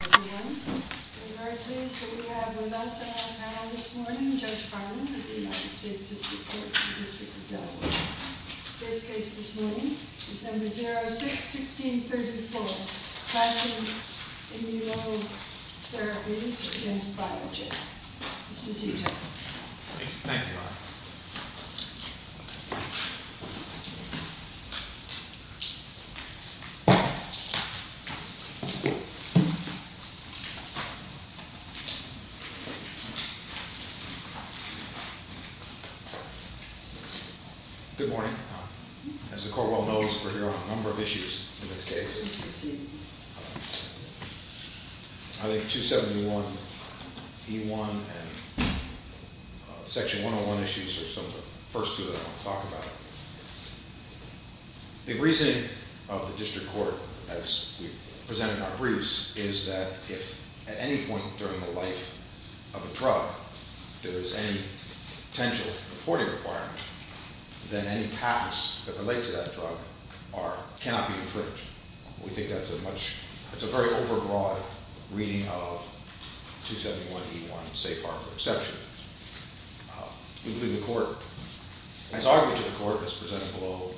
I'm very pleased that we have with us on our panel this morning, Judge Farman of the United States District Court in the District of Delaware. First case this morning is number 06-1634, Claussen Immuno Therapies against Biogen. Mr. Cito. Thank you. Good morning. As the court well knows, we're here on a number of issues in this case. I think 271E1 and section 101 issues are some of the first two that I want to talk about. The reasoning of the district court, as we presented in our briefs, is that if at any point during the life of a drug, there's any potential reporting requirement, then any patents that relate to that drug cannot be infringed. We think that's a very over broad reading of 271E1 safe harbor exception. We believe the court, as argued to the court as presented below,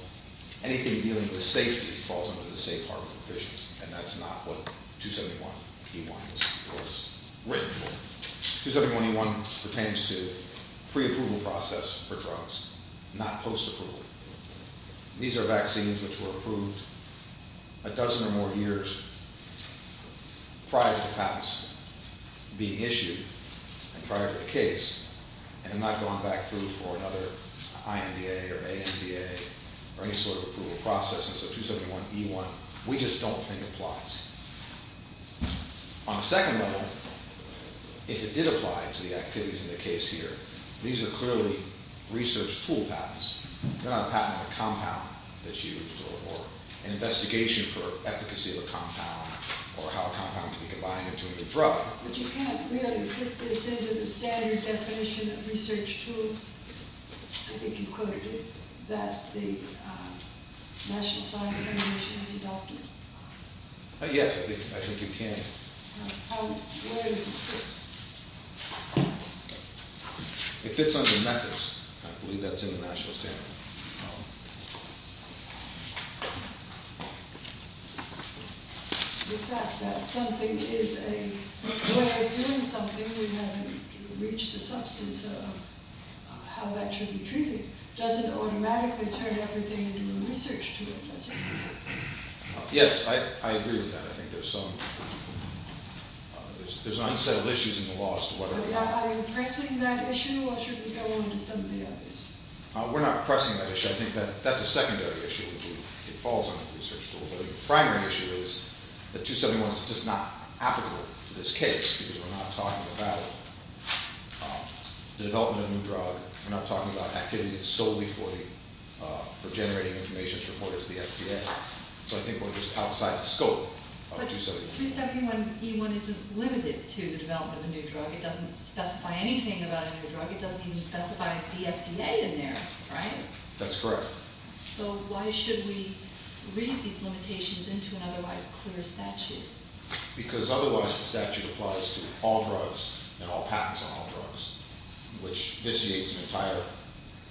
anything dealing with safety falls under the safe harbor provisions, and that's not what 271E1 was written for. 271E1 pertains to pre-approval process for drugs, not post-approval. These are vaccines which were approved a dozen or more years prior to patents being issued and were approved prior to the case, and have not gone back through for another IMBA or AMBA, or any sort of approval process. And so 271E1, we just don't think applies. On the second level, if it did apply to the activities in the case here, these are clearly research tool patents. They're not a patent on a compound that's used, or an investigation for efficacy of a compound, or how a compound can be combined into a new drug. But you can't really put this into the standard definition of research tools. I think you quoted it, that the National Science Foundation has adopted. Yes, I think you can. Where is it? It fits under methods, I believe that's in the national standard. The fact that something is a way of doing something, we haven't reached the substance of how that should be treated. Doesn't automatically turn everything into a research tool, does it? Yes, I agree with that, I think there's some, there's an unsettled issues in the laws to what it is. Are you pressing that issue, or should we go on to some of the others? We're not pressing that issue, I think that's a secondary issue, which it falls under the research tool. But the primary issue is that 271 is just not applicable to this case, because we're not talking about the development of a new drug. We're not talking about activities solely for generating information to report it to the FDA. So I think we're just outside the scope of 271. But 271E1 isn't limited to the development of a new drug. It doesn't specify anything about a new drug. It doesn't even specify the FDA in there, right? That's correct. So why should we read these limitations into an otherwise clear statute? Because otherwise the statute applies to all drugs and all patents on all drugs. Which vitiates an entire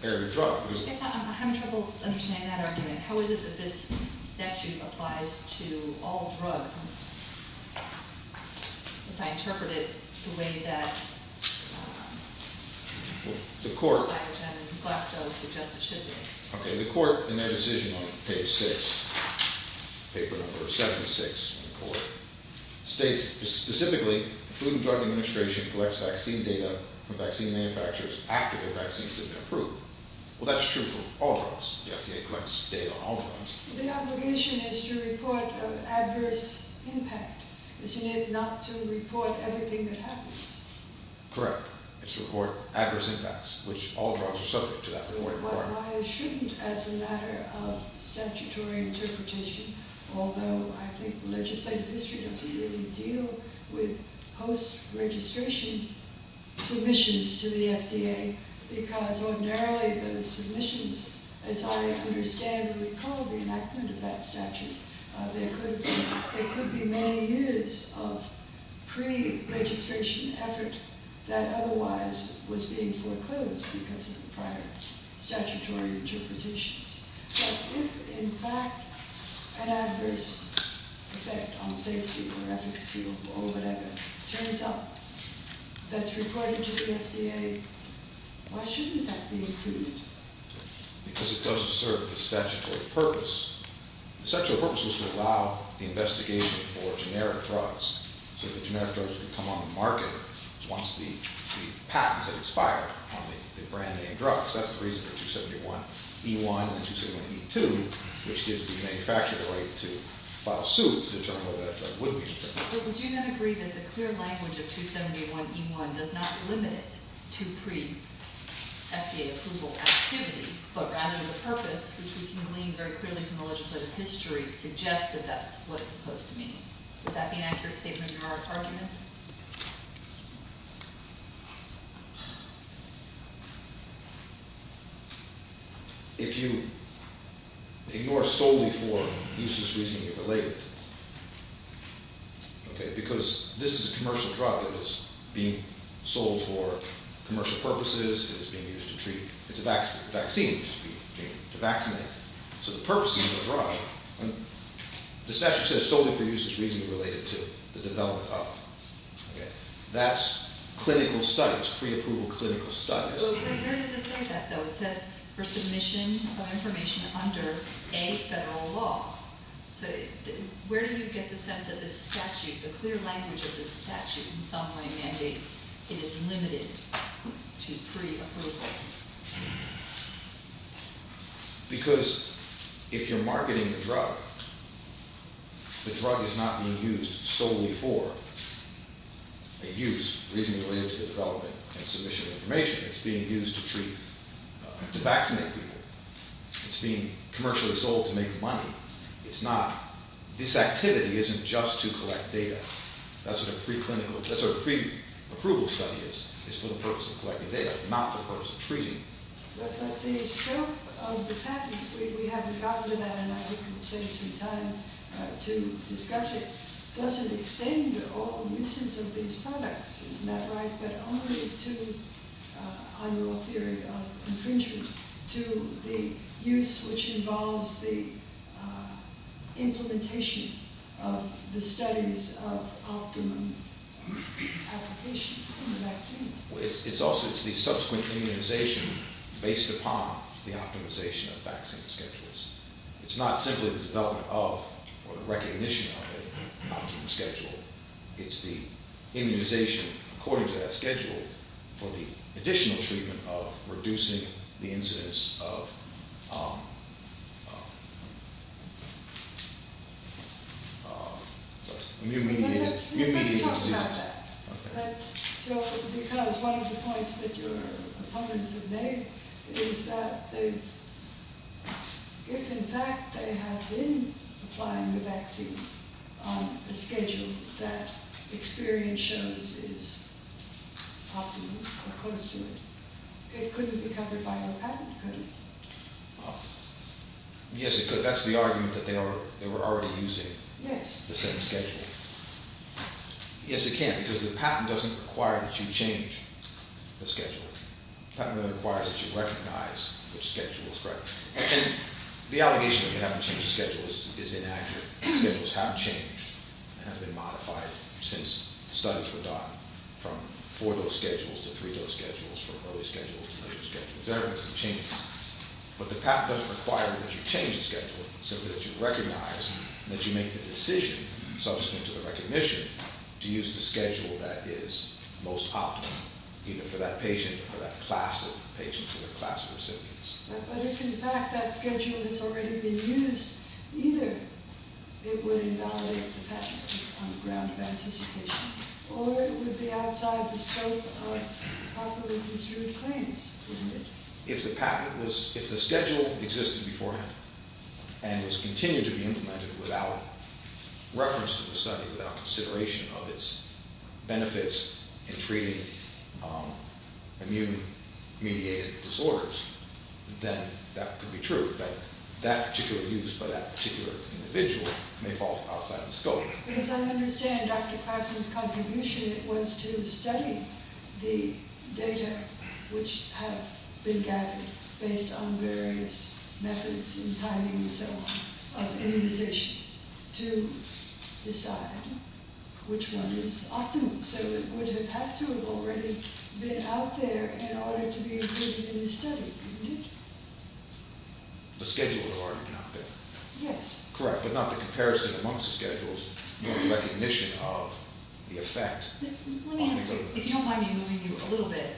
area of drug. I'm having trouble understanding that argument. How is it that this statute applies to all drugs? If I interpret it the way that- The court- I would suggest it should be. Okay, the court in their decision on page six, paper number 76 in the court, states specifically the Food and Drug Administration collects vaccine data from vaccine manufacturers after the vaccines have been approved. Well, that's true for all drugs. The FDA collects data on all drugs. The obligation is to report an adverse impact, isn't it? Not to report everything that happens. Correct. It's to report adverse impacts, which all drugs are subject to that. But why shouldn't, as a matter of statutory interpretation, although I think legislative history doesn't really deal with post-registration submissions to the FDA. Because ordinarily those submissions, as I understand what we call the enactment of that statute, there could be many years of pre-registration effort that otherwise was being foreclosed because of the prior statutory interpretations. But if, in fact, an adverse effect on safety or efficacy or whatever, turns out that's required to the FDA, why shouldn't that be included? Because it doesn't serve the statutory purpose. The statutory purpose was to allow the investigation for generic drugs. So the generic drugs would come on the market once the patents had expired on the brand name drugs. That's the reason for 271E1 and 271E2, which gives the manufacturer the right to file suit to determine whether that drug would be approved. So would you not agree that the clear language of 271E1 does not limit it to pre-FDA approval activity, but rather the purpose, which we can glean very clearly from the legislative history, suggests that that's what it's supposed to mean? Would that be an accurate statement of your argument? If you ignore solely for useless reason you're related. Okay, because this is a commercial drug that is being sold for commercial purposes. It's being used to treat, it's a vaccine, to vaccinate. So the purpose of the drug, the statute says solely for useless reason related to the development of. That's clinical studies, pre-approval clinical studies. But where does it say that though? It says for submission of information under a federal law. So where do you get the sense that this statute, the clear language of this statute in some way mandates it is limited to pre-approval? Because if you're marketing the drug, the drug is not being used solely for a use, reasonably related to the development and submission of information. It's being used to treat, to vaccinate people. It's being commercially sold to make money. It's not, this activity isn't just to collect data. That's what a pre-approval study is. It's for the purpose of collecting data, not for the purpose of treating. But the scope of the patent, we haven't gotten to that, and I hope it will take some time to discuss it. Does it extend all uses of these products, isn't that right? But only to, on your theory of infringement, to the use which involves the implementation of the studies of optimum application in the vaccine. It's also, it's the subsequent immunization based upon the optimization of vaccine schedules. It's not simply the development of or the recognition of an optimum schedule. It's the immunization according to that schedule for the additional treatment of reducing the incidence of immediate, immediate- No, that's, that talks about that. That's, so, because one of the points that your opponents have made is that they, if in fact they have been applying the vaccine on a schedule that experience shows is optimum or close to it. It couldn't be covered by a patent, could it? Yes, it could. That's the argument that they were already using the same schedule. Yes, it can, because the patent doesn't require that you change the schedule. The patent only requires that you recognize which schedule is correct. And the allegation that you haven't changed the schedule is inaccurate. Schedules have changed and have been modified since studies were done from four-dose schedules to three-dose schedules, from early schedules to later schedules. There have been some changes. But the patent doesn't require that you change the schedule. Simply that you recognize and that you make the decision subsequent to the recognition to use the schedule that is most optimal, either for that patient or for that class of patients or that class of recipients. But if in fact that schedule has already been used, either it would invalidate the patent on the ground of anticipation, or it would be outside the scope of properly construed claims, wouldn't it? If the schedule existed beforehand and was continued to be implemented without reference to the study, without consideration of its benefits in treating immune-mediated disorders, then that could be true, that that particular use by that particular individual may fall outside the scope. Because I understand Dr. Classen's contribution was to study the data which have been gathered based on various methods and timing and so on of immunization. To decide which one is optimal. So it would have had to have already been out there in order to be included in the study, wouldn't it? The schedule had already been out there. Yes. Correct, but not the comparison amongst schedules, but the recognition of the effect. Let me ask you, if you don't mind me moving you a little bit,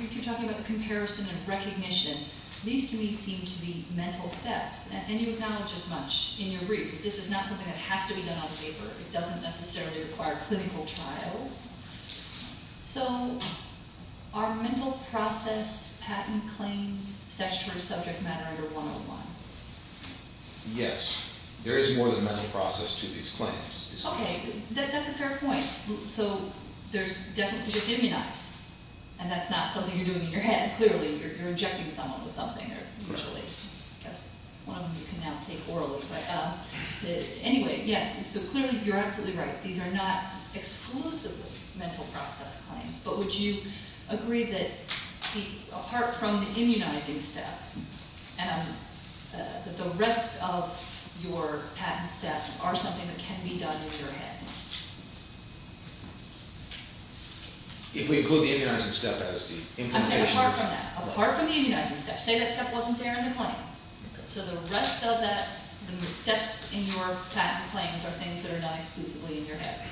if you're talking about the comparison and recognition, these to me seem to be mental steps, and you acknowledge as much in your brief. This is not something that has to be done on the paper. It doesn't necessarily require clinical trials. So are mental process patent claims, statutory subject matter, your one on one? Yes. There is more than mental process to these claims. Okay, that's a fair point. So there's definitely, because you're immunized, and that's not something you're doing in your head. Clearly, you're injecting someone with something, or usually, I guess, one of them you can now take orally. But anyway, yes, so clearly, you're absolutely right. These are not exclusively mental process claims. But would you agree that, apart from the immunizing step, that the rest of your patent steps are something that can be done in your head? If we include the immunizing step as the implementation? I'm saying apart from that. Apart from the immunizing step. Say that step wasn't there in the claim. So the rest of that, the steps in your patent claims are things that are not exclusively in your head.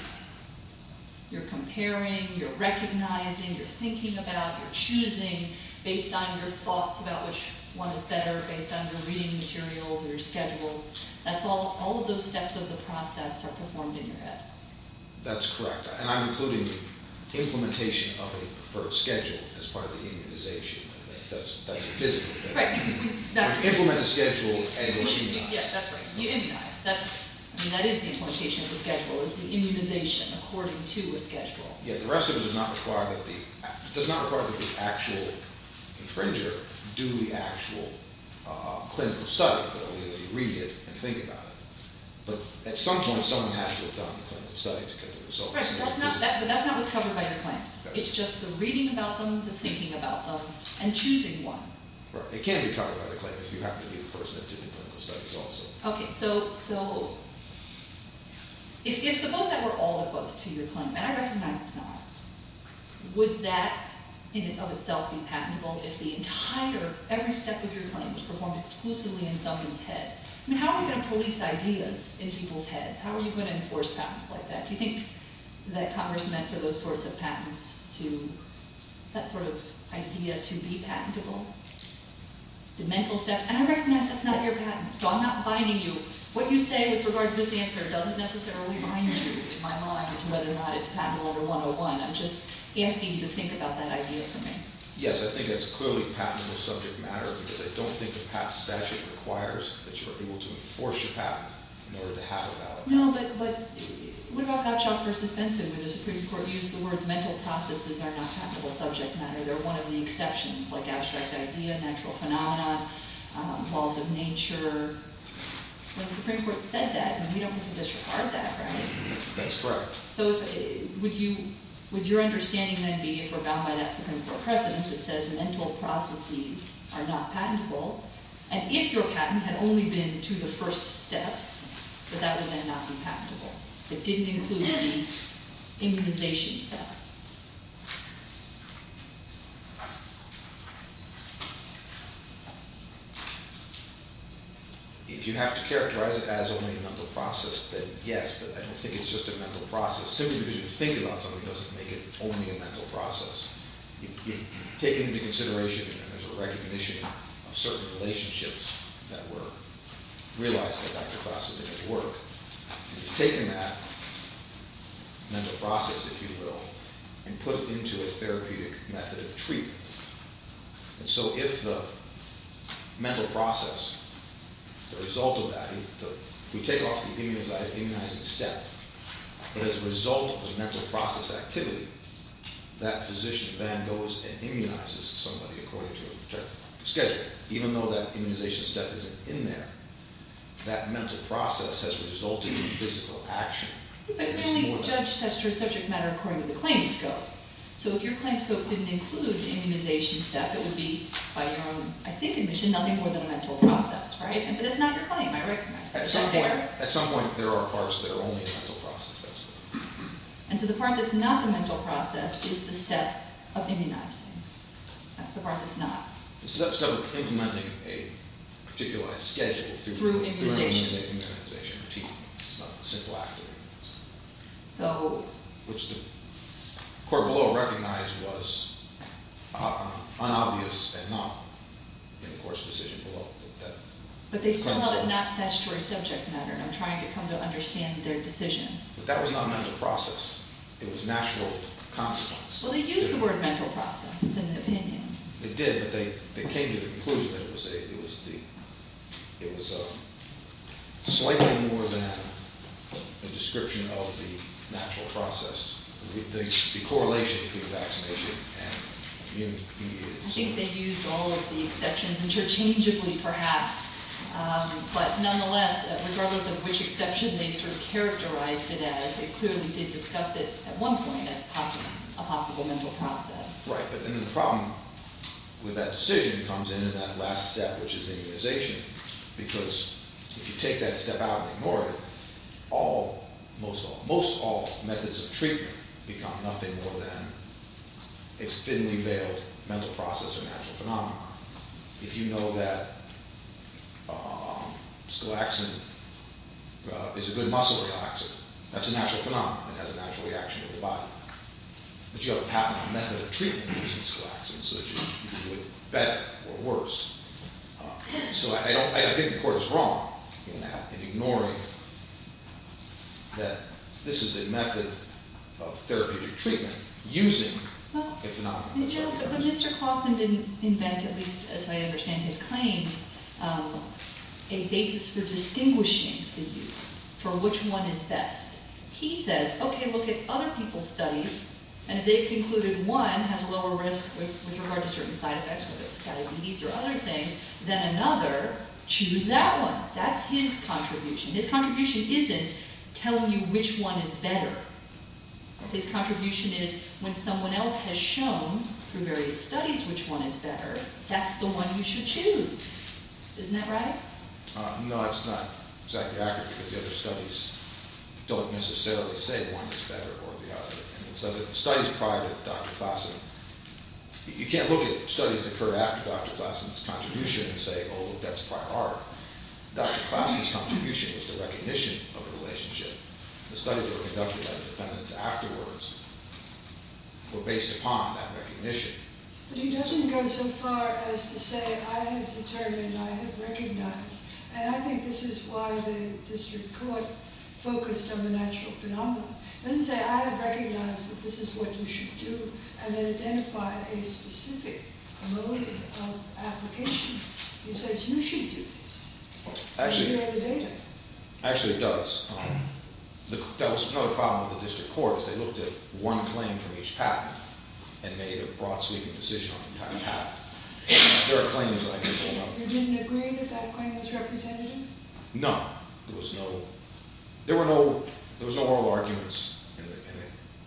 You're comparing, you're recognizing, you're thinking about, you're choosing, based on your thoughts about which one is better, based on your reading materials or your schedules. All of those steps of the process are performed in your head. That's correct. And I'm including the implementation of a preferred schedule as part of the immunization. That's a physical thing. You implement a schedule and you're immunized. Yes, that's right. You immunize. That is the implementation of the schedule. It's the immunization according to a schedule. Yeah, the rest of it does not require that the actual infringer do the actual clinical study, but only that you read it and think about it. But at some point, someone has to have done the clinical study to get the results. Right, but that's not what's covered by your claims. It's just the reading about them, the thinking about them, and choosing one. Right. It can't be covered by the claim if you happen to be the person that did the clinical studies also. Okay. So if suppose that were all the quotes to your claim, and I recognize it's not, would that in and of itself be patentable if the entire, every step of your claim was performed exclusively in someone's head? I mean, how are you going to police ideas in people's heads? How are you going to enforce patents like that? Do you think that Congress meant for those sorts of patents that sort of idea to be patentable? The mental steps. And I recognize that's not your patent. So I'm not binding you. What you say with regard to this answer doesn't necessarily bind you, in my mind, to whether or not it's patent level 101. I'm just asking you to think about that idea for me. Yes, I think it's clearly patentable subject matter because I don't think a patent statute requires that you are able to enforce your patent in order to have a valid patent. No, but what about Gottschalk v. Benson where the Supreme Court used the words mental processes are not patentable subject matter? They're one of the exceptions, like abstract idea, natural phenomena, laws of nature. When the Supreme Court said that, we don't get to disregard that, right? That's correct. So would your understanding then be, if we're bound by that Supreme Court precedent that says mental processes are not patentable, and if your patent had only been to the first steps, that that would then not be patentable? It didn't include the immunization step. If you have to characterize it as only a mental process, then yes, but I don't think it's just a mental process. Simply because you think about something doesn't make it only a mental process. If you take it into consideration and there's a recognition of certain relationships that were realized by Dr. Gossett in his work, he's taken that mental process, if you will, and put it into a therapeutic method of treatment. And so if the mental process, the result of that, we take off the immunizing step, but as a result of the mental process activity, that physician then goes and immunizes somebody according to a particular schedule, even though that immunization step isn't in there. That mental process has resulted in physical action. But really, the judge touched on a subject matter according to the claim scope. So if your claim scope didn't include the immunization step, it would be, by your own, I think, admission, nothing more than a mental process, right? But it's not your claim. I recognize that. At some point, there are parts that are only a mental process. And so the part that's not the mental process is the step of immunizing. That's the part that's not. It's the step of implementing a particular schedule through an immunization routine. It's not the simple act of immunization, which the court below recognized was unobvious and not in the court's decision below. But they still held it not attached to a subject matter. I'm trying to come to understand their decision. But that was not a mental process. It was natural consequence. Well, they used the word mental process in the opinion. They did, but they came to the conclusion that it was slightly more than a description of the natural process, the correlation between vaccination and immunity. I think they used all of the exceptions interchangeably, perhaps. But nonetheless, regardless of which exception they sort of characterized it as, they clearly did discuss it at one point as a possible mental process. Right, but then the problem with that decision comes in in that last step, which is immunization, because if you take that step out and ignore it, most all methods of treatment become nothing more than a fiddly-veiled mental process or natural phenomenon. If you know that scolaxin is a good muscle relaxant, that's a natural phenomenon. It has a natural reaction to the body. But you have a patented method of treatment using scolaxin, so that you can do it better or worse. So I think the court is wrong in that, in ignoring that this is a method of therapeutic treatment using a phenomenon. But Mr. Clawson didn't invent, at least as I understand his claims, a basis for distinguishing the use, for which one is best. He says, okay, look at other people's studies, and if they've concluded one has lower risk with regard to certain side effects, whether it's diabetes or other things, then another, choose that one. That's his contribution. His contribution isn't telling you which one is better. His contribution is, when someone else has shown, through various studies, which one is better, that's the one you should choose. Isn't that right? No, that's not exactly accurate, because the other studies don't necessarily say one is better or the other. So the studies prior to Dr. Clawson, you can't look at studies that occur after Dr. Clawson's contribution and say, oh, that's prior art. Dr. Clawson's contribution was the recognition of the relationship. The studies that were conducted by the defendants afterwards were based upon that recognition. But he doesn't go so far as to say, I have determined, I have recognized, and I think this is why the district court focused on the natural phenomenon. He doesn't say, I have recognized that this is what you should do, and then identify a specific mode of application. He says, you should do this. Actually, it does. That was another problem with the district court, is they looked at one claim from each patent and made a broad-sleeving decision on the entire patent. There are claims that I can hold up. You didn't agree that that claim was representative? No. There was no oral arguments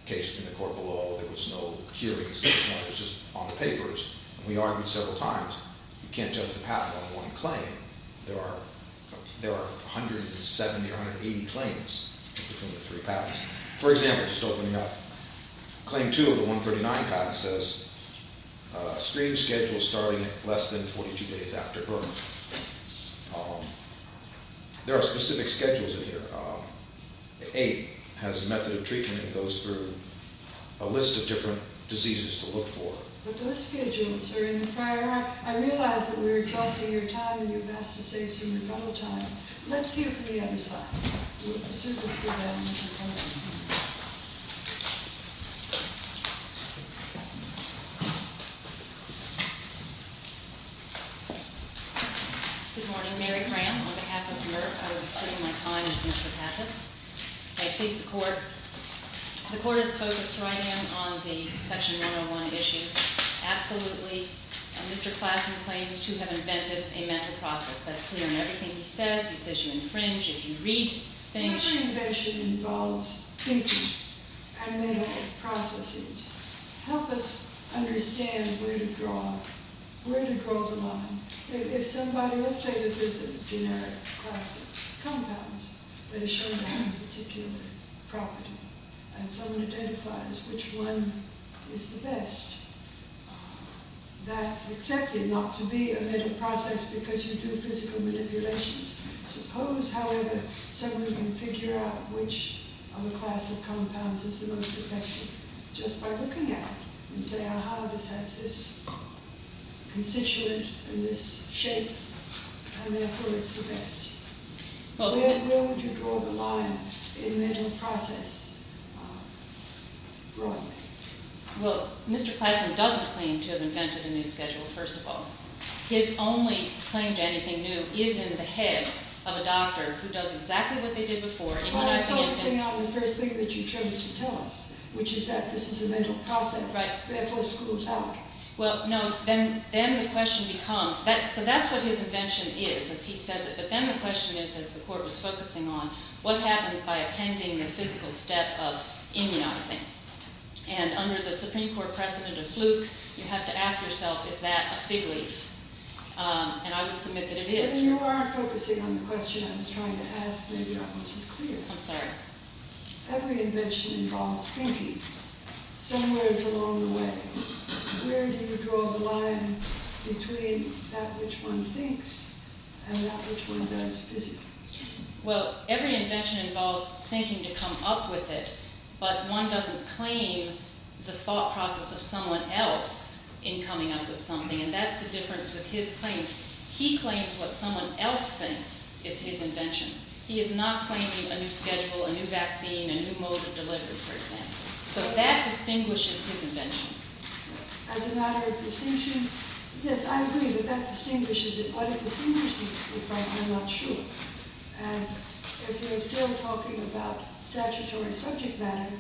in the court below. There was no hearings. It was just on the papers. We argued several times. You can't judge a patent on one claim. There are 170 or 180 claims between the three patents. For example, just opening up, claim two of the 139 patent says, extreme schedule starting at less than 42 days after birth. There are specific schedules in here. Eight has a method of treatment and goes through a list of different diseases to look for. But those schedules are in the prior act. I realize that we're exhausting your time, and you've asked to save some rebuttal time. Let's hear from the other side. Good morning. Mary Graham on behalf of Merck. I was taking my time with Mr. Pappas. The court is focused right in on the Section 101 issues. Absolutely, Mr. Klassen claims to have invented a mental process that's clear in everything he says. He says you infringe if you read things. Whenever an invention involves thinking and mental processes, help us understand where to draw the line. If somebody, let's say that there's a generic class of compounds that are shown to have a particular property, and someone identifies which one is the best, that's accepted not to be a mental process because you do physical manipulations. Suppose, however, someone can figure out which of the class of compounds is the most effective just by looking at it and saying, aha, this has this constituent and this shape, and therefore it's the best. Where would you draw the line in mental process broadly? Well, Mr. Klassen doesn't claim to have invented a new schedule, first of all. His only claim to anything new is in the head of a doctor who does exactly what they did before. Well, I was focusing on the first thing that you chose to tell us, which is that this is a mental process, therefore schools help. Well, no, then the question becomes, so that's what his invention is, as he says it, but then the question is, as the court was focusing on, what happens by appending a physical step of immunizing? And under the Supreme Court precedent of fluke, you have to ask yourself, is that a fig leaf? And I would submit that it is. And you are focusing on the question I was trying to ask, maybe I wasn't clear. I'm sorry. Every invention involves thinking. Somewhere it's along the way. Where do you draw the line between that which one thinks and that which one does physically? Well, every invention involves thinking to come up with it, but one doesn't claim the thought process of someone else in coming up with something, and that's the difference with his claims. He claims what someone else thinks is his invention. He is not claiming a new schedule, a new vaccine, a new mode of delivery, for example. So that distinguishes his invention. As a matter of distinction, yes, I agree that that distinguishes it, but it distinguishes it if I'm not sure. And if you're still talking about statutory subject matter,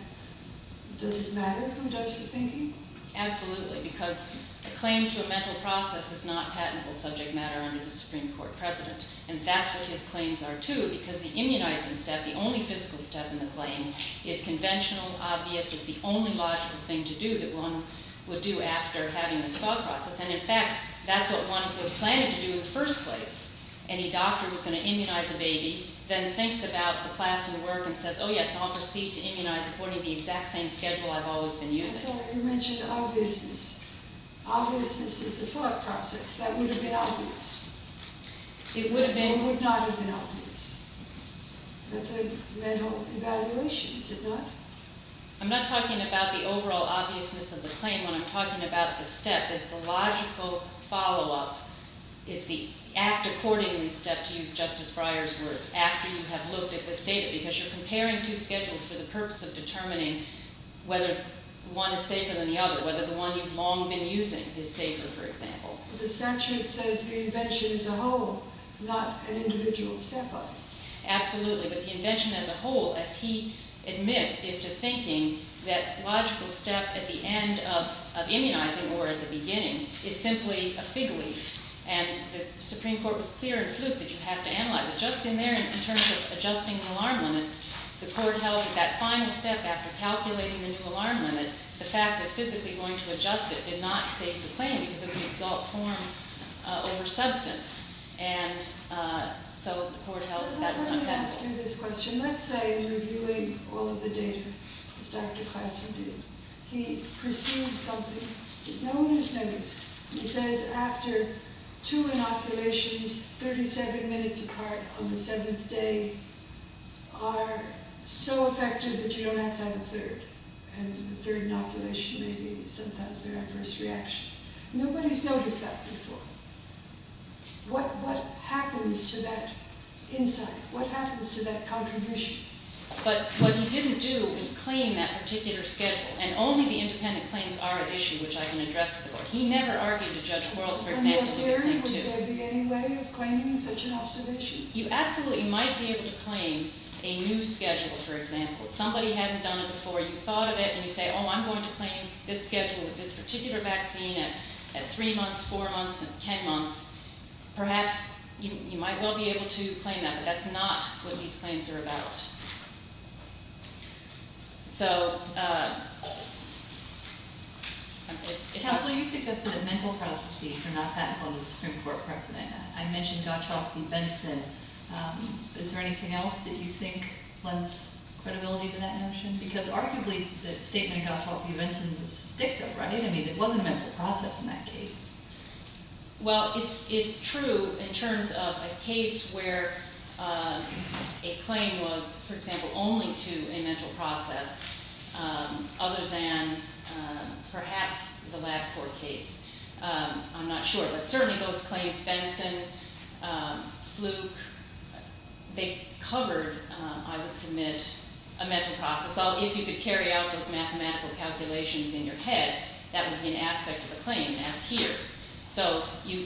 does it matter who does the thinking? Absolutely, because the claim to a mental process is not patentable subject matter under the Supreme Court precedent, and that's what his claims are, too, because the immunizing step, the only physical step in the claim, is conventional, obvious. It's the only logical thing to do that one would do after having this thought process. And, in fact, that's what one was planning to do in the first place. Any doctor who's going to immunize a baby then thinks about the class and the work and says, oh, yes, I'll proceed to immunize according to the exact same schedule I've always been using. I'm sorry, you mentioned obviousness. Obviousness is a thought process. That would have been obvious. It would have been? It would not have been obvious. That's a mental evaluation, is it not? I'm not talking about the overall obviousness of the claim when I'm talking about the step. It's the logical follow-up. It's the act-accordingly step, to use Justice Breyer's words, after you have looked at this data, because you're comparing two schedules for the purpose of determining whether one is safer than the other, whether the one you've long been using is safer, for example. But essentially it says the invention as a whole, not an individual stepper. Absolutely. But the invention as a whole, as he admits, is to thinking that logical step at the end of immunizing or at the beginning is simply a fig leaf. And the Supreme Court was clear in Fluke that you have to analyze it. And just in there, in terms of adjusting the alarm limits, the court held that that final step, after calculating the new alarm limit, the fact of physically going to adjust it did not save the claim because of the exalt form over substance. And so the court held that that was not that. Let me ask you this question. Let's say in reviewing all of the data, as Dr. Classen did, he perceives something known as limits. He says after two inoculations, 37 minutes apart on the seventh day are so effective that you don't have to have a third. And the third inoculation, maybe sometimes there are first reactions. Nobody's noticed that before. What happens to that insight? What happens to that contribution? But what he didn't do is claim that particular schedule. And only the independent claims are an issue which I can address with the court. He never argued to Judge Quarles, for example, to claim two. In your theory, would there be any way of claiming such an observation? You absolutely might be able to claim a new schedule, for example. If somebody hadn't done it before, you thought of it, and you say, oh, I'm going to claim this schedule with this particular vaccine at three months, four months, and ten months. Perhaps you might well be able to claim that, but that's not what these claims are about. Counsel, you suggested that mental processes are not patented under the Supreme Court precedent. I mentioned Gottschalk v. Benson. Is there anything else that you think lends credibility to that notion? Because arguably, the statement Gottschalk v. Benson was dicta, right? I mean, it wasn't a mental process in that case. Well, it's true in terms of a case where a claim was, for example, only to a mental process, other than perhaps the LabCorp case. I'm not sure, but certainly those claims, Benson, Fluke, they covered, I would submit, a mental process. If you could carry out those mathematical calculations in your head, that would be an aspect of the claim. That's here. So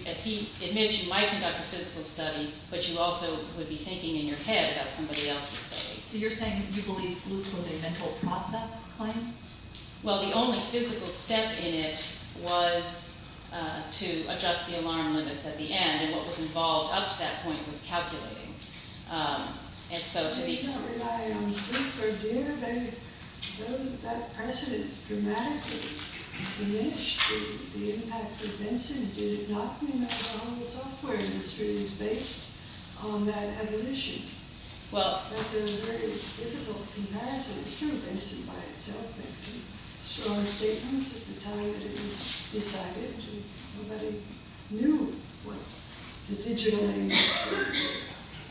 as he admits, you might conduct a physical study, but you also would be thinking in your head about somebody else's study. So you're saying you believe Fluke was a mental process claim? Well, the only physical step in it was to adjust the alarm limits at the end, and what was involved up to that point was calculating. I don't rely on Fluke or Deer. Though that precedent dramatically diminished the impact of Benson, did it not mean that the software industry was based on that evolution? That's a very difficult comparison. It's true, Benson by itself makes some strong statements at the time that it was decided. Nobody knew what the digital name was.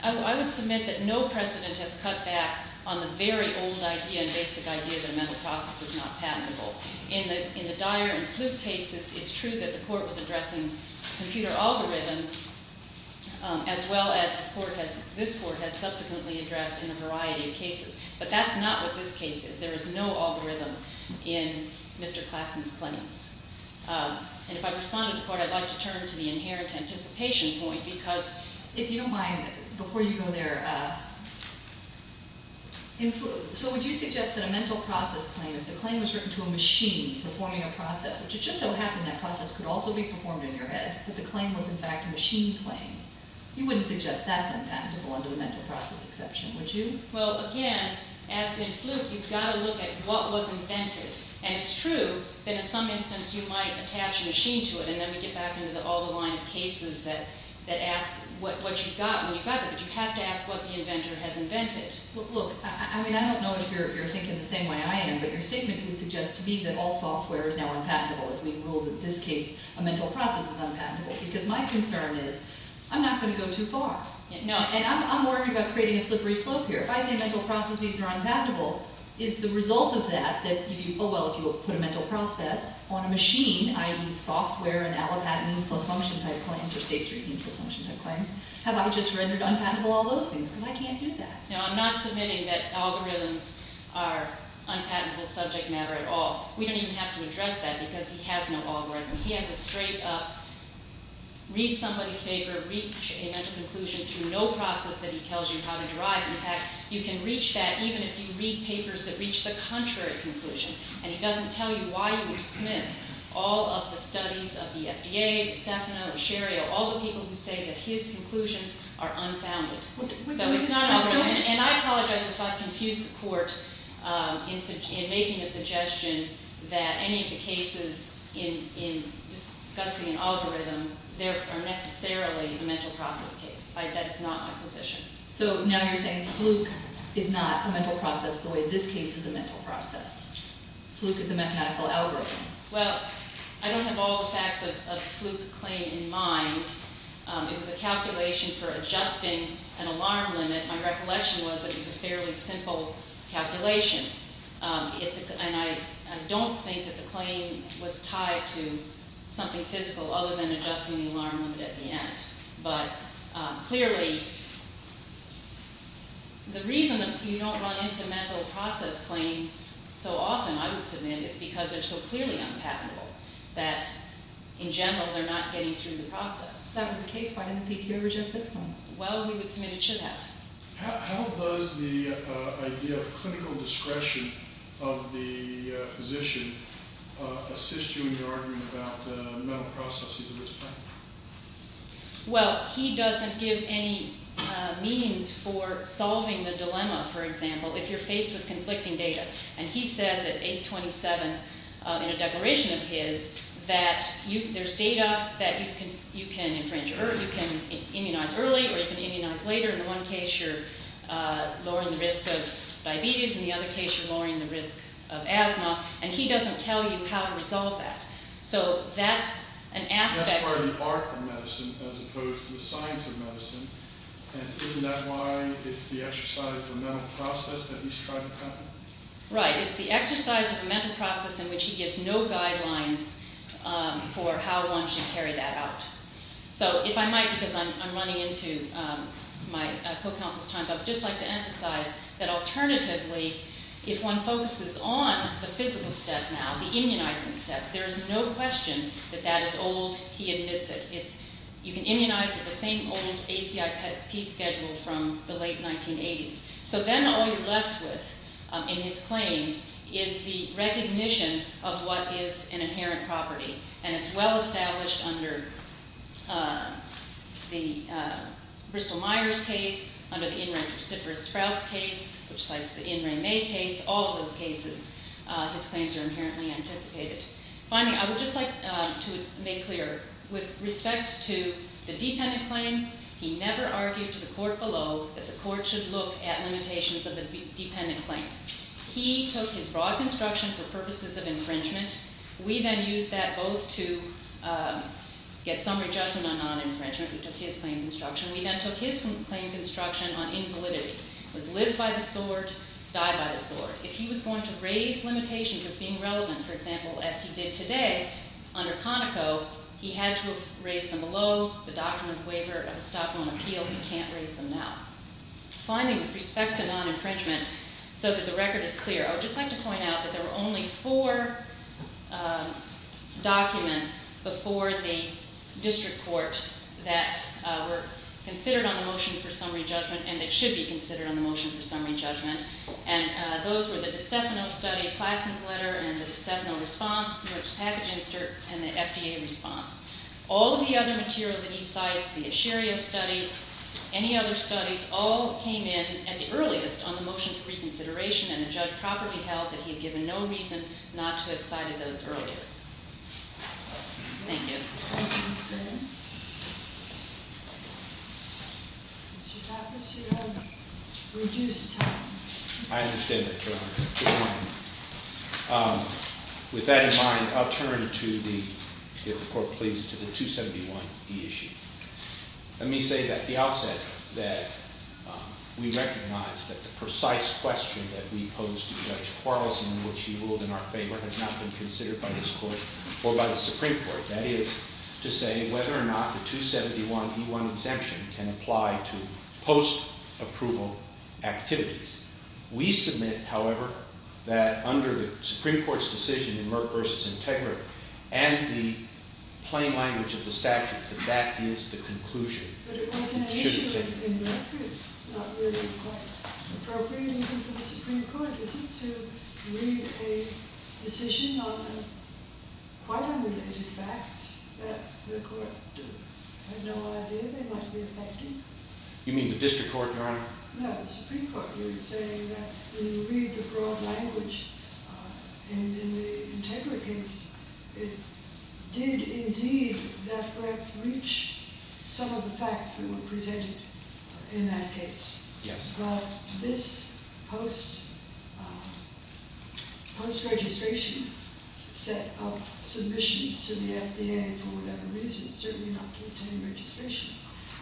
I would submit that no precedent has cut back on the very old idea and basic idea that a mental process is not patentable. In the Dyer and Fluke cases, it's true that the court was addressing computer algorithms, as well as this court has subsequently addressed in a variety of cases. But that's not what this case is. And if I respond to the court, I'd like to turn to the inherent anticipation point, because if you don't mind, before you go there, so would you suggest that a mental process claim, if the claim was written to a machine performing a process, which it just so happened that process could also be performed in your head, that the claim was in fact a machine claim, you wouldn't suggest that's unpatentable under the mental process exception, would you? Well, again, as in Fluke, you've got to look at what was invented. And it's true that in some instance you might attach a machine to it, and then we get back into all the line of cases that ask what you got when you got there. But you have to ask what the inventor has invented. Look, I don't know if you're thinking the same way I am, but your statement can suggest to me that all software is now unpatentable, if we rule that in this case a mental process is unpatentable. Because my concern is I'm not going to go too far. And I'm worried about creating a slippery slope here. If I say mental processes are unpatentable, is the result of that, that if you put a mental process on a machine, i.e. software and allopatent means post-function type claims, or state-driven means post-function type claims, have I just rendered unpatentable all those things? Because I can't do that. No, I'm not submitting that algorithms are unpatentable subject matter at all. We don't even have to address that because he has no algorithm. He has a straight-up read somebody's paper, reach a mental conclusion through no process that he tells you how to derive. In fact, you can reach that even if you read papers that reach the contrary conclusion. And he doesn't tell you why he would dismiss all of the studies of the FDA, DiStefano, Asherio, all the people who say that his conclusions are unfounded. So it's not an algorithm. And I apologize if I've confused the court in making a suggestion that any of the cases in discussing an algorithm are necessarily a mental process case. That is not my position. So now you're saying Fluke is not a mental process the way this case is a mental process. Fluke is a mechanical algorithm. Well, I don't have all the facts of the Fluke claim in mind. It was a calculation for adjusting an alarm limit. My recollection was that it was a fairly simple calculation. And I don't think that the claim was tied to something physical other than adjusting the alarm limit at the end. But clearly, the reason that you don't run into mental process claims so often, I would submit, is because they're so clearly unpatentable, that in general, they're not getting through the process. So in the case, why didn't the PTO reject this one? Well, we would submit it should have. How does the idea of clinical discretion of the physician assist you in your argument about the mental processes of this claim? Well, he doesn't give any means for solving the dilemma, for example, if you're faced with conflicting data. And he says at 827 in a declaration of his that there's data that you can immunize early or you can immunize later. In one case, you're lowering the risk of diabetes. In the other case, you're lowering the risk of asthma. And he doesn't tell you how to resolve that. So that's an aspect. That's part of the art of medicine as opposed to the science of medicine. And isn't that why it's the exercise of a mental process that he's trying to cover? Right. It's the exercise of a mental process in which he gives no guidelines for how one should carry that out. So if I might, because I'm running into my co-counsel's time, so I'd just like to emphasize that alternatively, if one focuses on the physical step now, the immunizing step, there is no question that that is old. He admits it. You can immunize with the same old ACIP schedule from the late 1980s. So then all you're left with in his claims is the recognition of what is an inherent property. And it's well established under the Bristol-Myers case, under the Ingram-Stiffers-Sprouts case, which cites the Ingram-May case. All of those cases, his claims are inherently anticipated. Finally, I would just like to make clear, with respect to the dependent claims, he never argued to the court below that the court should look at limitations of the dependent claims. He took his broad construction for purposes of infringement. We then used that both to get summary judgment on non-infringement. We took his claim construction. We then took his claim construction on invalidity. It was live by the sword, die by the sword. If he was going to raise limitations as being relevant, for example, as he did today under Conoco, he had to have raised them below the document waiver of a Stockholm appeal. He can't raise them now. Finally, with respect to non-infringement, so that the record is clear, I would just like to point out that there were only four documents before the district court that were considered on the motion for summary judgment and that should be considered on the motion for summary judgment. Those were the DiStefano study, Plassen's letter, and the DiStefano response, Newark's package insert, and the FDA response. All of the other material that he cites, the Asherio study, any other studies, all came in at the earliest on the motion for reconsideration, and the judge properly held that he had given no reason not to have cited those earlier. Thank you. Thank you, Ms. Brennan. Mr. Douglas, you have reduced time. I understand that, Your Honor. Good morning. With that in mind, I'll turn to the 271E issue. Let me say at the outset that we recognize that the precise question that we pose to Judge Quarles in which he ruled in our favor has not been considered by this court or by the Supreme Court. That is to say whether or not the 271E1 exemption can apply to post-approval activities. We submit, however, that under the Supreme Court's decision in Merck v. Integrity and the plain language of the statute, that that is the conclusion. But it wasn't an issue in Merck. It's not really quite appropriate in the Supreme Court, is it, to read a decision on quite unrelated facts that the court had no idea they might be affecting? You mean the district court, Your Honor? No, the Supreme Court. You're saying that when you read the broad language in the Integrity case, it did indeed, in effect, reach some of the facts that were presented in that case. Yes. But this post-registration set of submissions to the FDA for whatever reason certainly do not contain registration.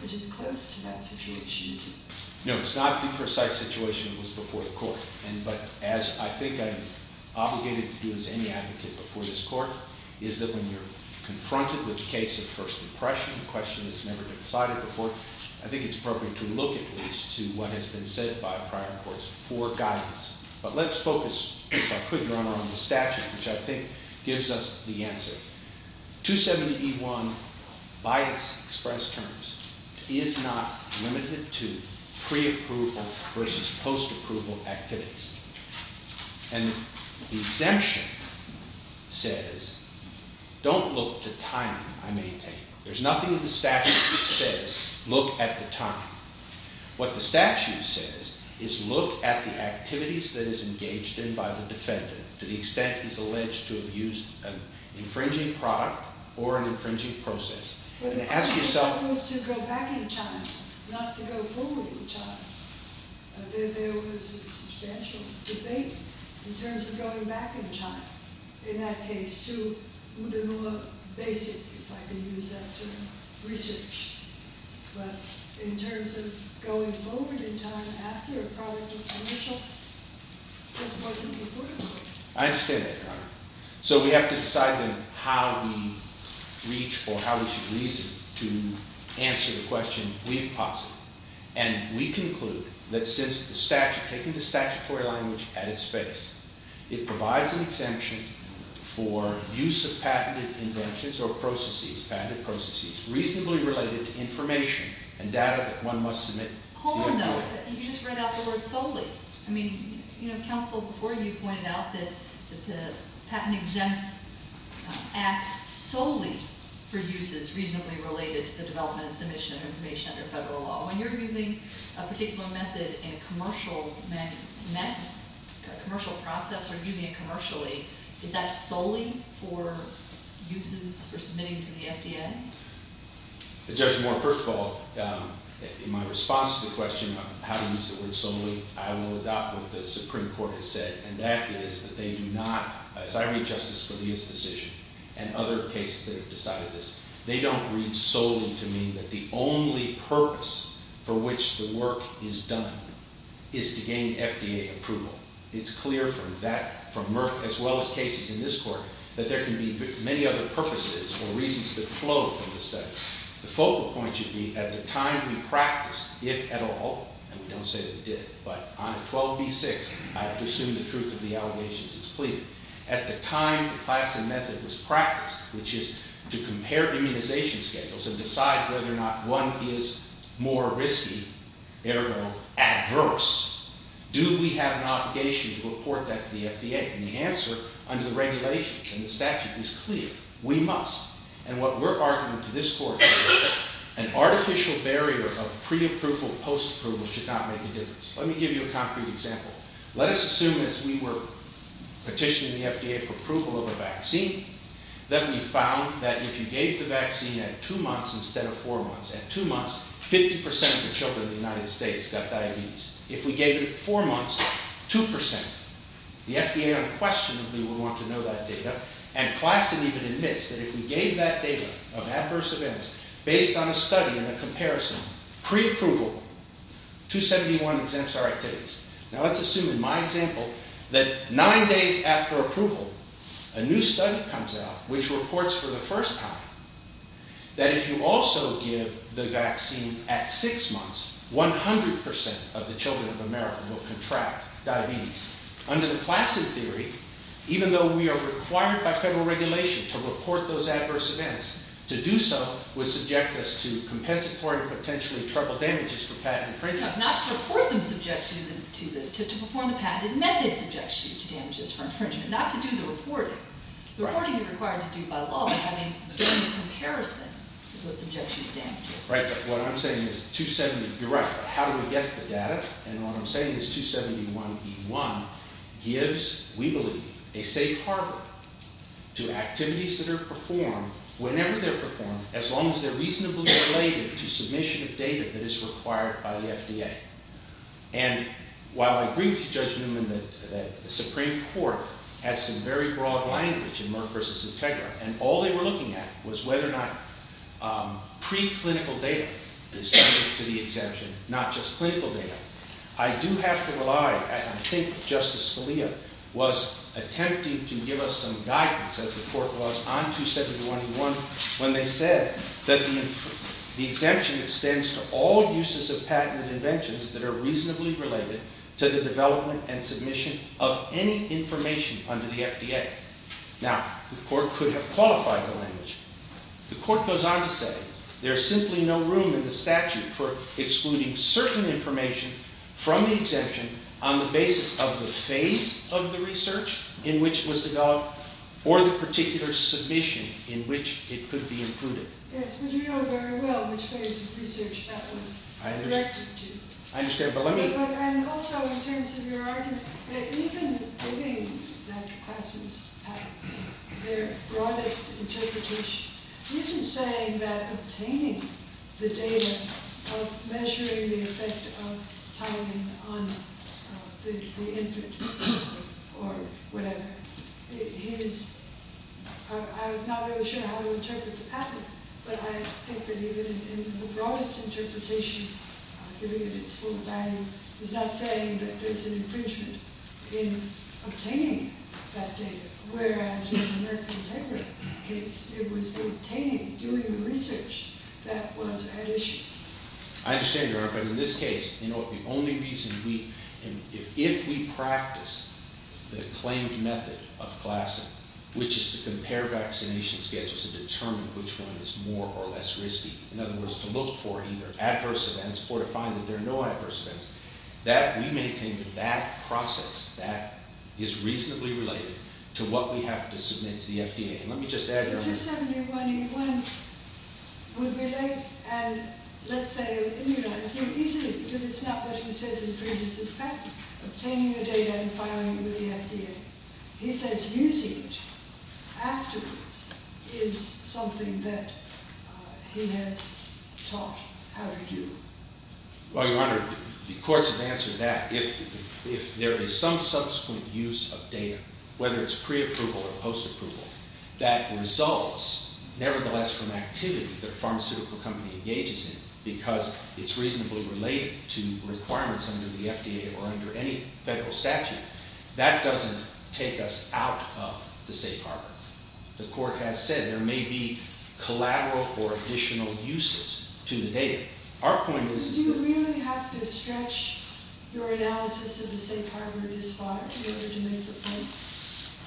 Is it close to that situation, is it? No, it's not the precise situation that was before the court. But as I think I'm obligated to do as any advocate before this court, is that when you're confronted with a case of first impression, a question that's never been plotted before, I think it's appropriate to look at least to what has been said by prior courts for guidance. But let's focus, if I could, Your Honor, on the statute, which I think gives us the answer. 270E1, by its express terms, is not limited to pre-approval versus post-approval activities. And the exemption says, don't look to time, I may take. There's nothing in the statute that says, look at the time. What the statute says is look at the activities that is engaged in by the defendant to the extent he's alleged to have used an infringing product or an infringing process. But the question was to go back in time, not to go forward in time. There was a substantial debate in terms of going back in time, in that case, to Udenua Basic, if I can use that term, research. But in terms of going forward in time after a product was financial, it just wasn't important. I understand that, Your Honor. So we have to decide then how we reach or how we should reason to answer the question, if possible. And we conclude that since the statute, taking the statutory language at its face, it provides an exemption for use of patented inventions or processes, reasonably related to information and data that one must submit to Udenua. Hold on, though. You just read out the word solely. I mean, counsel, before you pointed out that the patent exempts acts solely for uses reasonably related to the development and submission of information under federal law. When you're using a particular method in a commercial process or using it commercially, is that solely for uses for submitting to the FDA? Judge Moore, first of all, in my response to the question of how to use the word solely, I will adopt what the Supreme Court has said, and that is that they do not, as I read Justice Scalia's decision and other cases that have decided this, they don't read solely to mean that the only purpose for which the work is done is to gain FDA approval. It's clear from Merck, as well as cases in this court, that there can be many other purposes or reasons that flow from this study. The focal point should be at the time we practiced it at all, and we don't say that we did it, but on 12b-6, I have to assume the truth of the allegations is pleaded. At the time the class and method was practiced, which is to compare immunization schedules and decide whether or not one is more risky, ergo adverse. Do we have an obligation to report that to the FDA? And the answer, under the regulations and the statute, is clear. We must. And what we're arguing to this court is an artificial barrier of pre-approval, post-approval, should not make a difference. Let me give you a concrete example. Let us assume as we were petitioning the FDA for approval of a vaccine that we found that if you gave the vaccine at two months instead of four months, at two months, 50% of the children in the United States got diabetes. If we gave it at four months, 2%. The FDA unquestionably would want to know that data, and Claston even admits that if we gave that data of adverse events based on a study and a comparison pre-approval, 271 exempts are activities. Now let's assume in my example that nine days after approval, a new study comes out which reports for the first time that if you also give the vaccine at six months, 100% of the children of America will contract diabetes. Under the Claston theory, even though we are required by federal regulation to report those adverse events, to do so would subject us to compensatory and potentially triple damages for patent infringement. No, not to report them subjects you to the, to perform the patent, the method subjects you to damages for infringement, not to do the reporting. Reporting is required to do by law, but having done the comparison is what subjects you to damages. Right, but what I'm saying is 270, you're right, but how do we get the data? And what I'm saying is 271E1 gives, we believe, a safe harbor to activities that are performed whenever they're performed, as long as they're reasonably related to submission of data that is required by the FDA. And while I agree with Judge Newman that the Supreme Court has some very broad language in Merck versus Integra, and all they were looking at was whether or not pre-clinical data is subject to the exemption, not just clinical data. I do have to rely, and I think Justice Scalia was attempting to give us some guidance, as the court was on 271E1, when they said that the exemption extends to all uses of patented inventions that are reasonably related to the development and submission of any information under the FDA. Now, the court could have qualified the language. The court goes on to say there's simply no room in the statute for excluding certain information from the exemption on the basis of the phase of the research in which it was developed or the particular submission in which it could be included. Yes, but you know very well which phase of research that was directed to. I understand, but let me... And also, in terms of your argument, that even giving that class's patents, their broadest interpretation, he isn't saying that obtaining the data of measuring the effect of timing on the infant or whatever, he is not really sure how to interpret the patent. But I think that even in the broadest interpretation, giving it its full value, he's not saying that there's an infringement in obtaining that data, whereas in the Merck Integrate case, it was the obtaining, doing the research that was at issue. I understand, Your Honor, but in this case, the only reason we... If we practice the claimed method of classing, which is to compare vaccination schedules and determine which one is more or less risky, in other words, to look for either adverse events or to find that there are no adverse events, that we maintain that process that is reasonably related to what we have to submit to the FDA. And let me just add, Your Honor... 271A1 would relate and, let's say, immunize him easily because it's not what he says infringes his patent, obtaining the data and filing it with the FDA. He says using it afterwards is something that he has taught how to do. Well, Your Honor, the courts have answered that. If there is some subsequent use of data, whether it's preapproval or postapproval, that resolves, nevertheless, from activity that a pharmaceutical company engages in because it's reasonably related to requirements under the FDA or under any federal statute, that doesn't take us out of the safe harbor. The court has said there may be collateral or additional uses to the data. Our point is... Do you really have to stretch your analysis of the safe harbor this far in order to make the point?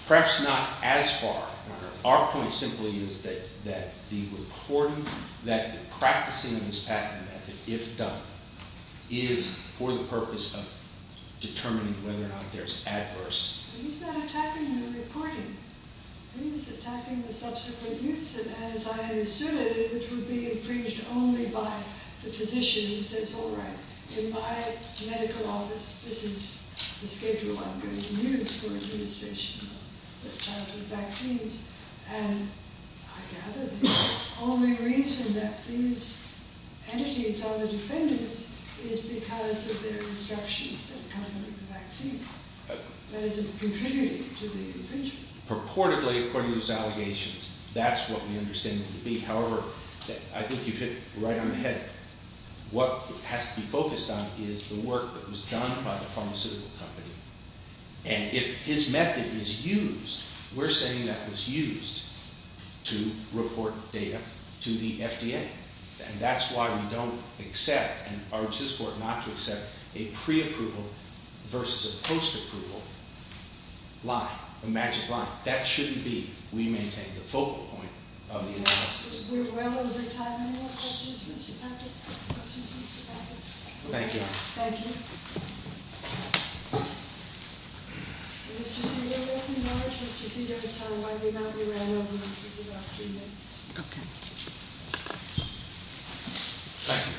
Perhaps not as far, Your Honor. Our point simply is that the reporting, that the practicing of this patent method, if done, is for the purpose of determining whether or not there's adverse... He's not attacking the reporting. He's attacking the subsequent use, as I understood it, which would be infringed only by the physician who says, all right, in my medical office, this is the schedule I'm going to use for administration of childhood vaccines. And I gather the only reason that these entities are the defendants is because of their instructions that accompany the vaccine. That is, it's contributing to the infringement. Purportedly, according to those allegations, that's what we understand it to be. However, I think you hit right on the head. What has to be focused on is the work that was done by the pharmaceutical company. And if his method is used, we're saying that was used to report data to the FDA. And that's why we don't accept and urge this court not to accept a pre-approval versus a post-approval line, a magic line. That shouldn't be, we maintain, the focal point of the analysis. We're well over time. Any more questions, Mr. Pappas? Questions, Mr. Pappas? Thank you. Thank you. Mr. Cedar, if that's acknowledged, Mr. Cedar has time. Why do you not rerun all the questions in the last few minutes? Okay. Thank you.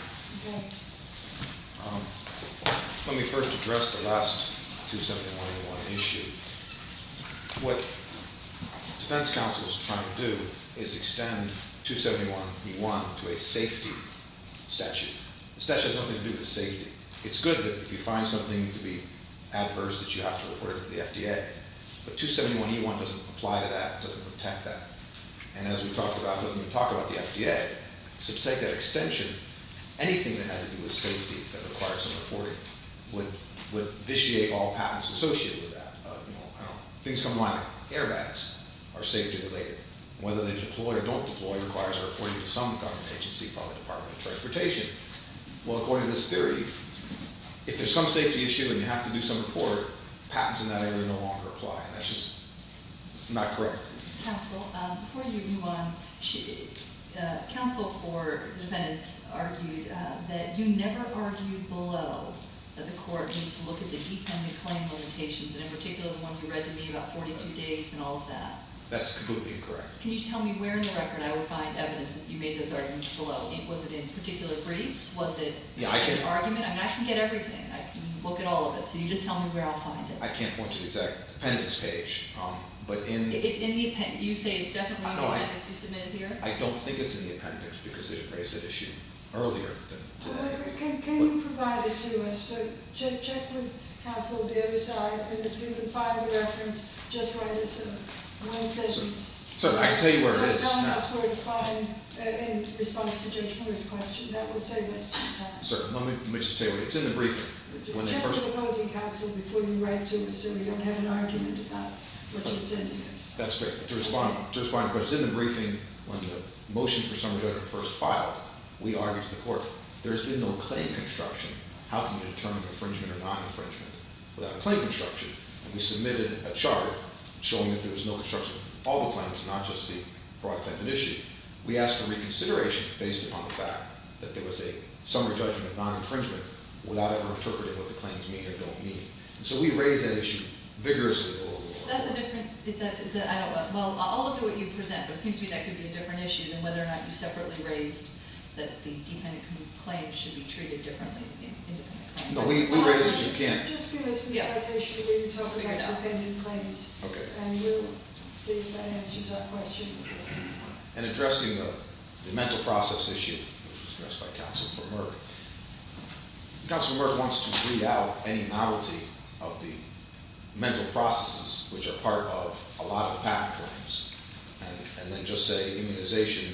Let me first address the last 271E1 issue. What defense counsel is trying to do is extend 271E1 to a safety statute. The statute has nothing to do with safety. It's good that if you find something to be adverse that you have to report it to the FDA. But 271E1 doesn't apply to that, doesn't protect that. And as we talked about, doesn't even talk about the FDA. So to take that extension, anything that had to do with safety that requires some reporting would vitiate all patents associated with that. Things come to mind like airbags are safety-related. Whether they deploy or don't deploy requires a reporting to some government agency, probably the Department of Transportation. Well, according to this theory, if there's some safety issue and you have to do some report, patents in that area no longer apply. And that's just not correct. Counsel, before you move on, counsel for defendants argued that you never argued below that the court needs to look at the e-Family Claim Limitations, and in particular the one you read to me about 42 days and all of that. That's completely incorrect. Can you just tell me where in the record I would find evidence that you made those arguments below? Was it in particular briefs? Was it in the argument? I can get everything. I can look at all of it. So you just tell me where I'll find it. I can't point to the exact appendix page. It's in the appendix. You say it's definitely in the appendix you submitted here? I don't think it's in the appendix because they didn't raise that issue earlier. Can you provide it to us? Check with counsel the other side, and if you can find the reference, just write us one sentence. I can tell you where it is. In response to Judge Miller's question, that will save us some time. Let me just tell you, it's in the briefing. Check with opposing counsel before you write to us so we don't have an argument about what you're sending us. That's great. To respond to your question, in the briefing, when the motions for summary judgment were first filed, we argued to the court, there has been no claim construction. How can you determine infringement or non-infringement without claim construction? We submitted a chart showing that there was no construction. All the claims, not just the broad claim initiative. We asked for reconsideration based upon the fact that there was a summary judgment of non-infringement without ever interpreting what the claims mean or don't mean. So we raised that issue vigorously. That's a different... I'll look at what you present, but it seems to me that could be a different issue than whether or not you separately raised that the dependent claim should be treated differently. No, we raise it as you can. Just give us a citation where you talk about dependent claims. Okay. And we'll see if that answers our question. In addressing the mental process issue, which was addressed by Counsel for Merck, Counsel for Merck wants to weed out any novelty of the mental processes, which are part of a lot of patent claims, and then just say immunization.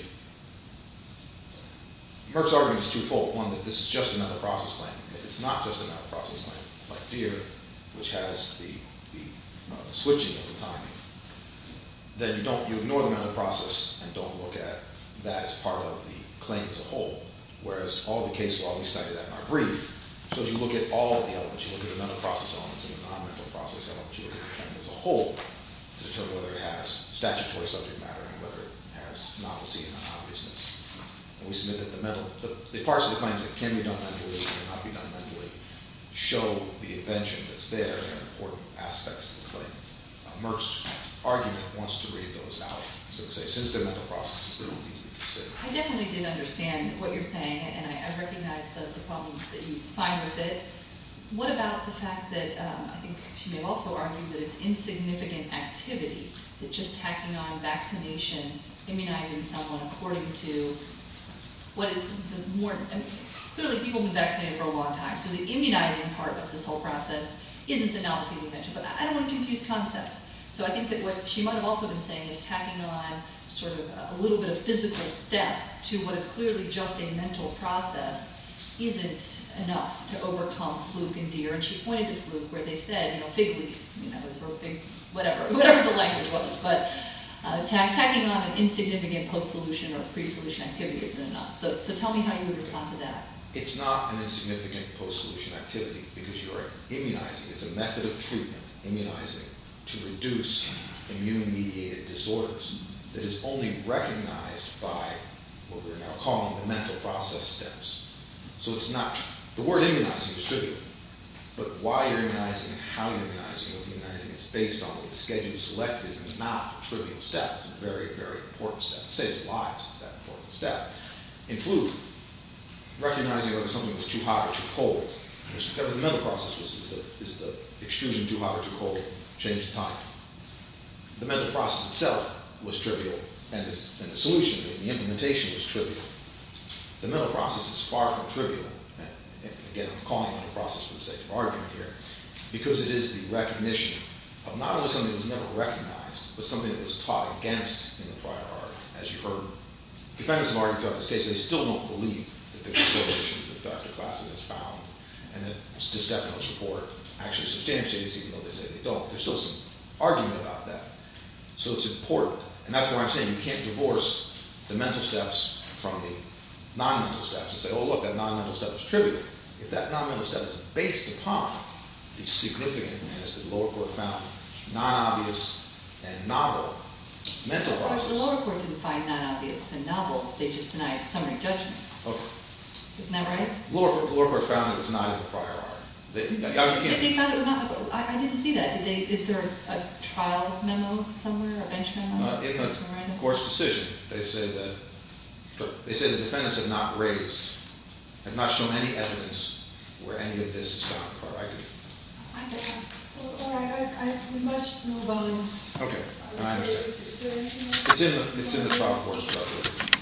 Merck's argument is twofold. One, that this is just a mental process claim. If it's not just a mental process claim, like here, which has the switching of the timing, then you ignore the mental process and don't look at that as part of the claim as a whole, whereas all the cases, I'll be citing that in my brief, shows you look at all of the elements. You look at the mental process elements and the non-mental process elements. You look at the claim as a whole to determine whether it has statutory subject matter and whether it has novelty and unobviousness. And we submit that the parts of the claims that can be done mentally and cannot be done mentally show the invention that's there and important aspects of the claim. Merck's argument wants to read those out and say since they're mental processes, they don't need to be considered. I definitely didn't understand what you're saying, and I recognize the problems that you find with it. What about the fact that, I think she may have also argued that it's insignificant activity, that just tacking on vaccination, immunizing someone according to what is the more... Clearly, people have been vaccinated for a long time, so the immunizing part of this whole process isn't the novelty that you mentioned, but I don't want to confuse concepts. So I think that what she might have also been saying is tacking on sort of a little bit of physical step to what is clearly just a mental process isn't enough to overcome fluke and deer, and she pointed to fluke where they said fig leaf, or whatever the language was, but tacking on an insignificant post-solution or pre-solution activity isn't enough. So tell me how you would respond to that. It's not an insignificant post-solution activity because you're immunizing. It's a method of treatment, immunizing, to reduce immune-mediated disorders that is only recognized by what we're now calling the mental process steps. So it's not... The word immunizing is trivial, but why you're immunizing, how you're immunizing, what you're immunizing, it's based on what the schedule select is. It's not a trivial step. It's a very, very important step. It saves lives. It's that important a step. In fluke, recognizing whether something was too hot or too cold, whatever the mental process was, is the extrusion too hot or too cold change the time? The mental process itself was trivial, and the solution, the implementation was trivial. The mental process is far from trivial, and again, I'm calling it a process for the sake of argument here, because it is the recognition of not only something that was never recognized, but something that was taught against in the prior art, as you heard. Defendants have already talked about this case. They still don't believe that there's a correlation that Dr. Klassen has found, and that DeStefano's report actually substantiates it, even though they say they don't. There's still some argument about that. So it's important, and that's why I'm saying you can't divorce the mental steps from the non-mental steps and say, oh, look, that non-mental step is trivial. If that non-mental step is based upon the significant, as the lower court found, non-obvious and novel mental processes... But the lower court didn't find non-obvious and novel. They just denied summary judgment. Okay. Isn't that right? The lower court found it was not in the prior art. They found it was not... I didn't see that. Is there a trial memo somewhere, a bench memo? In the court's decision, they say that... They say the defendants have not raised, have not shown any evidence where any of this is found, or argued. All right. We must move on. Okay. Is there anything else? It's in the trial report.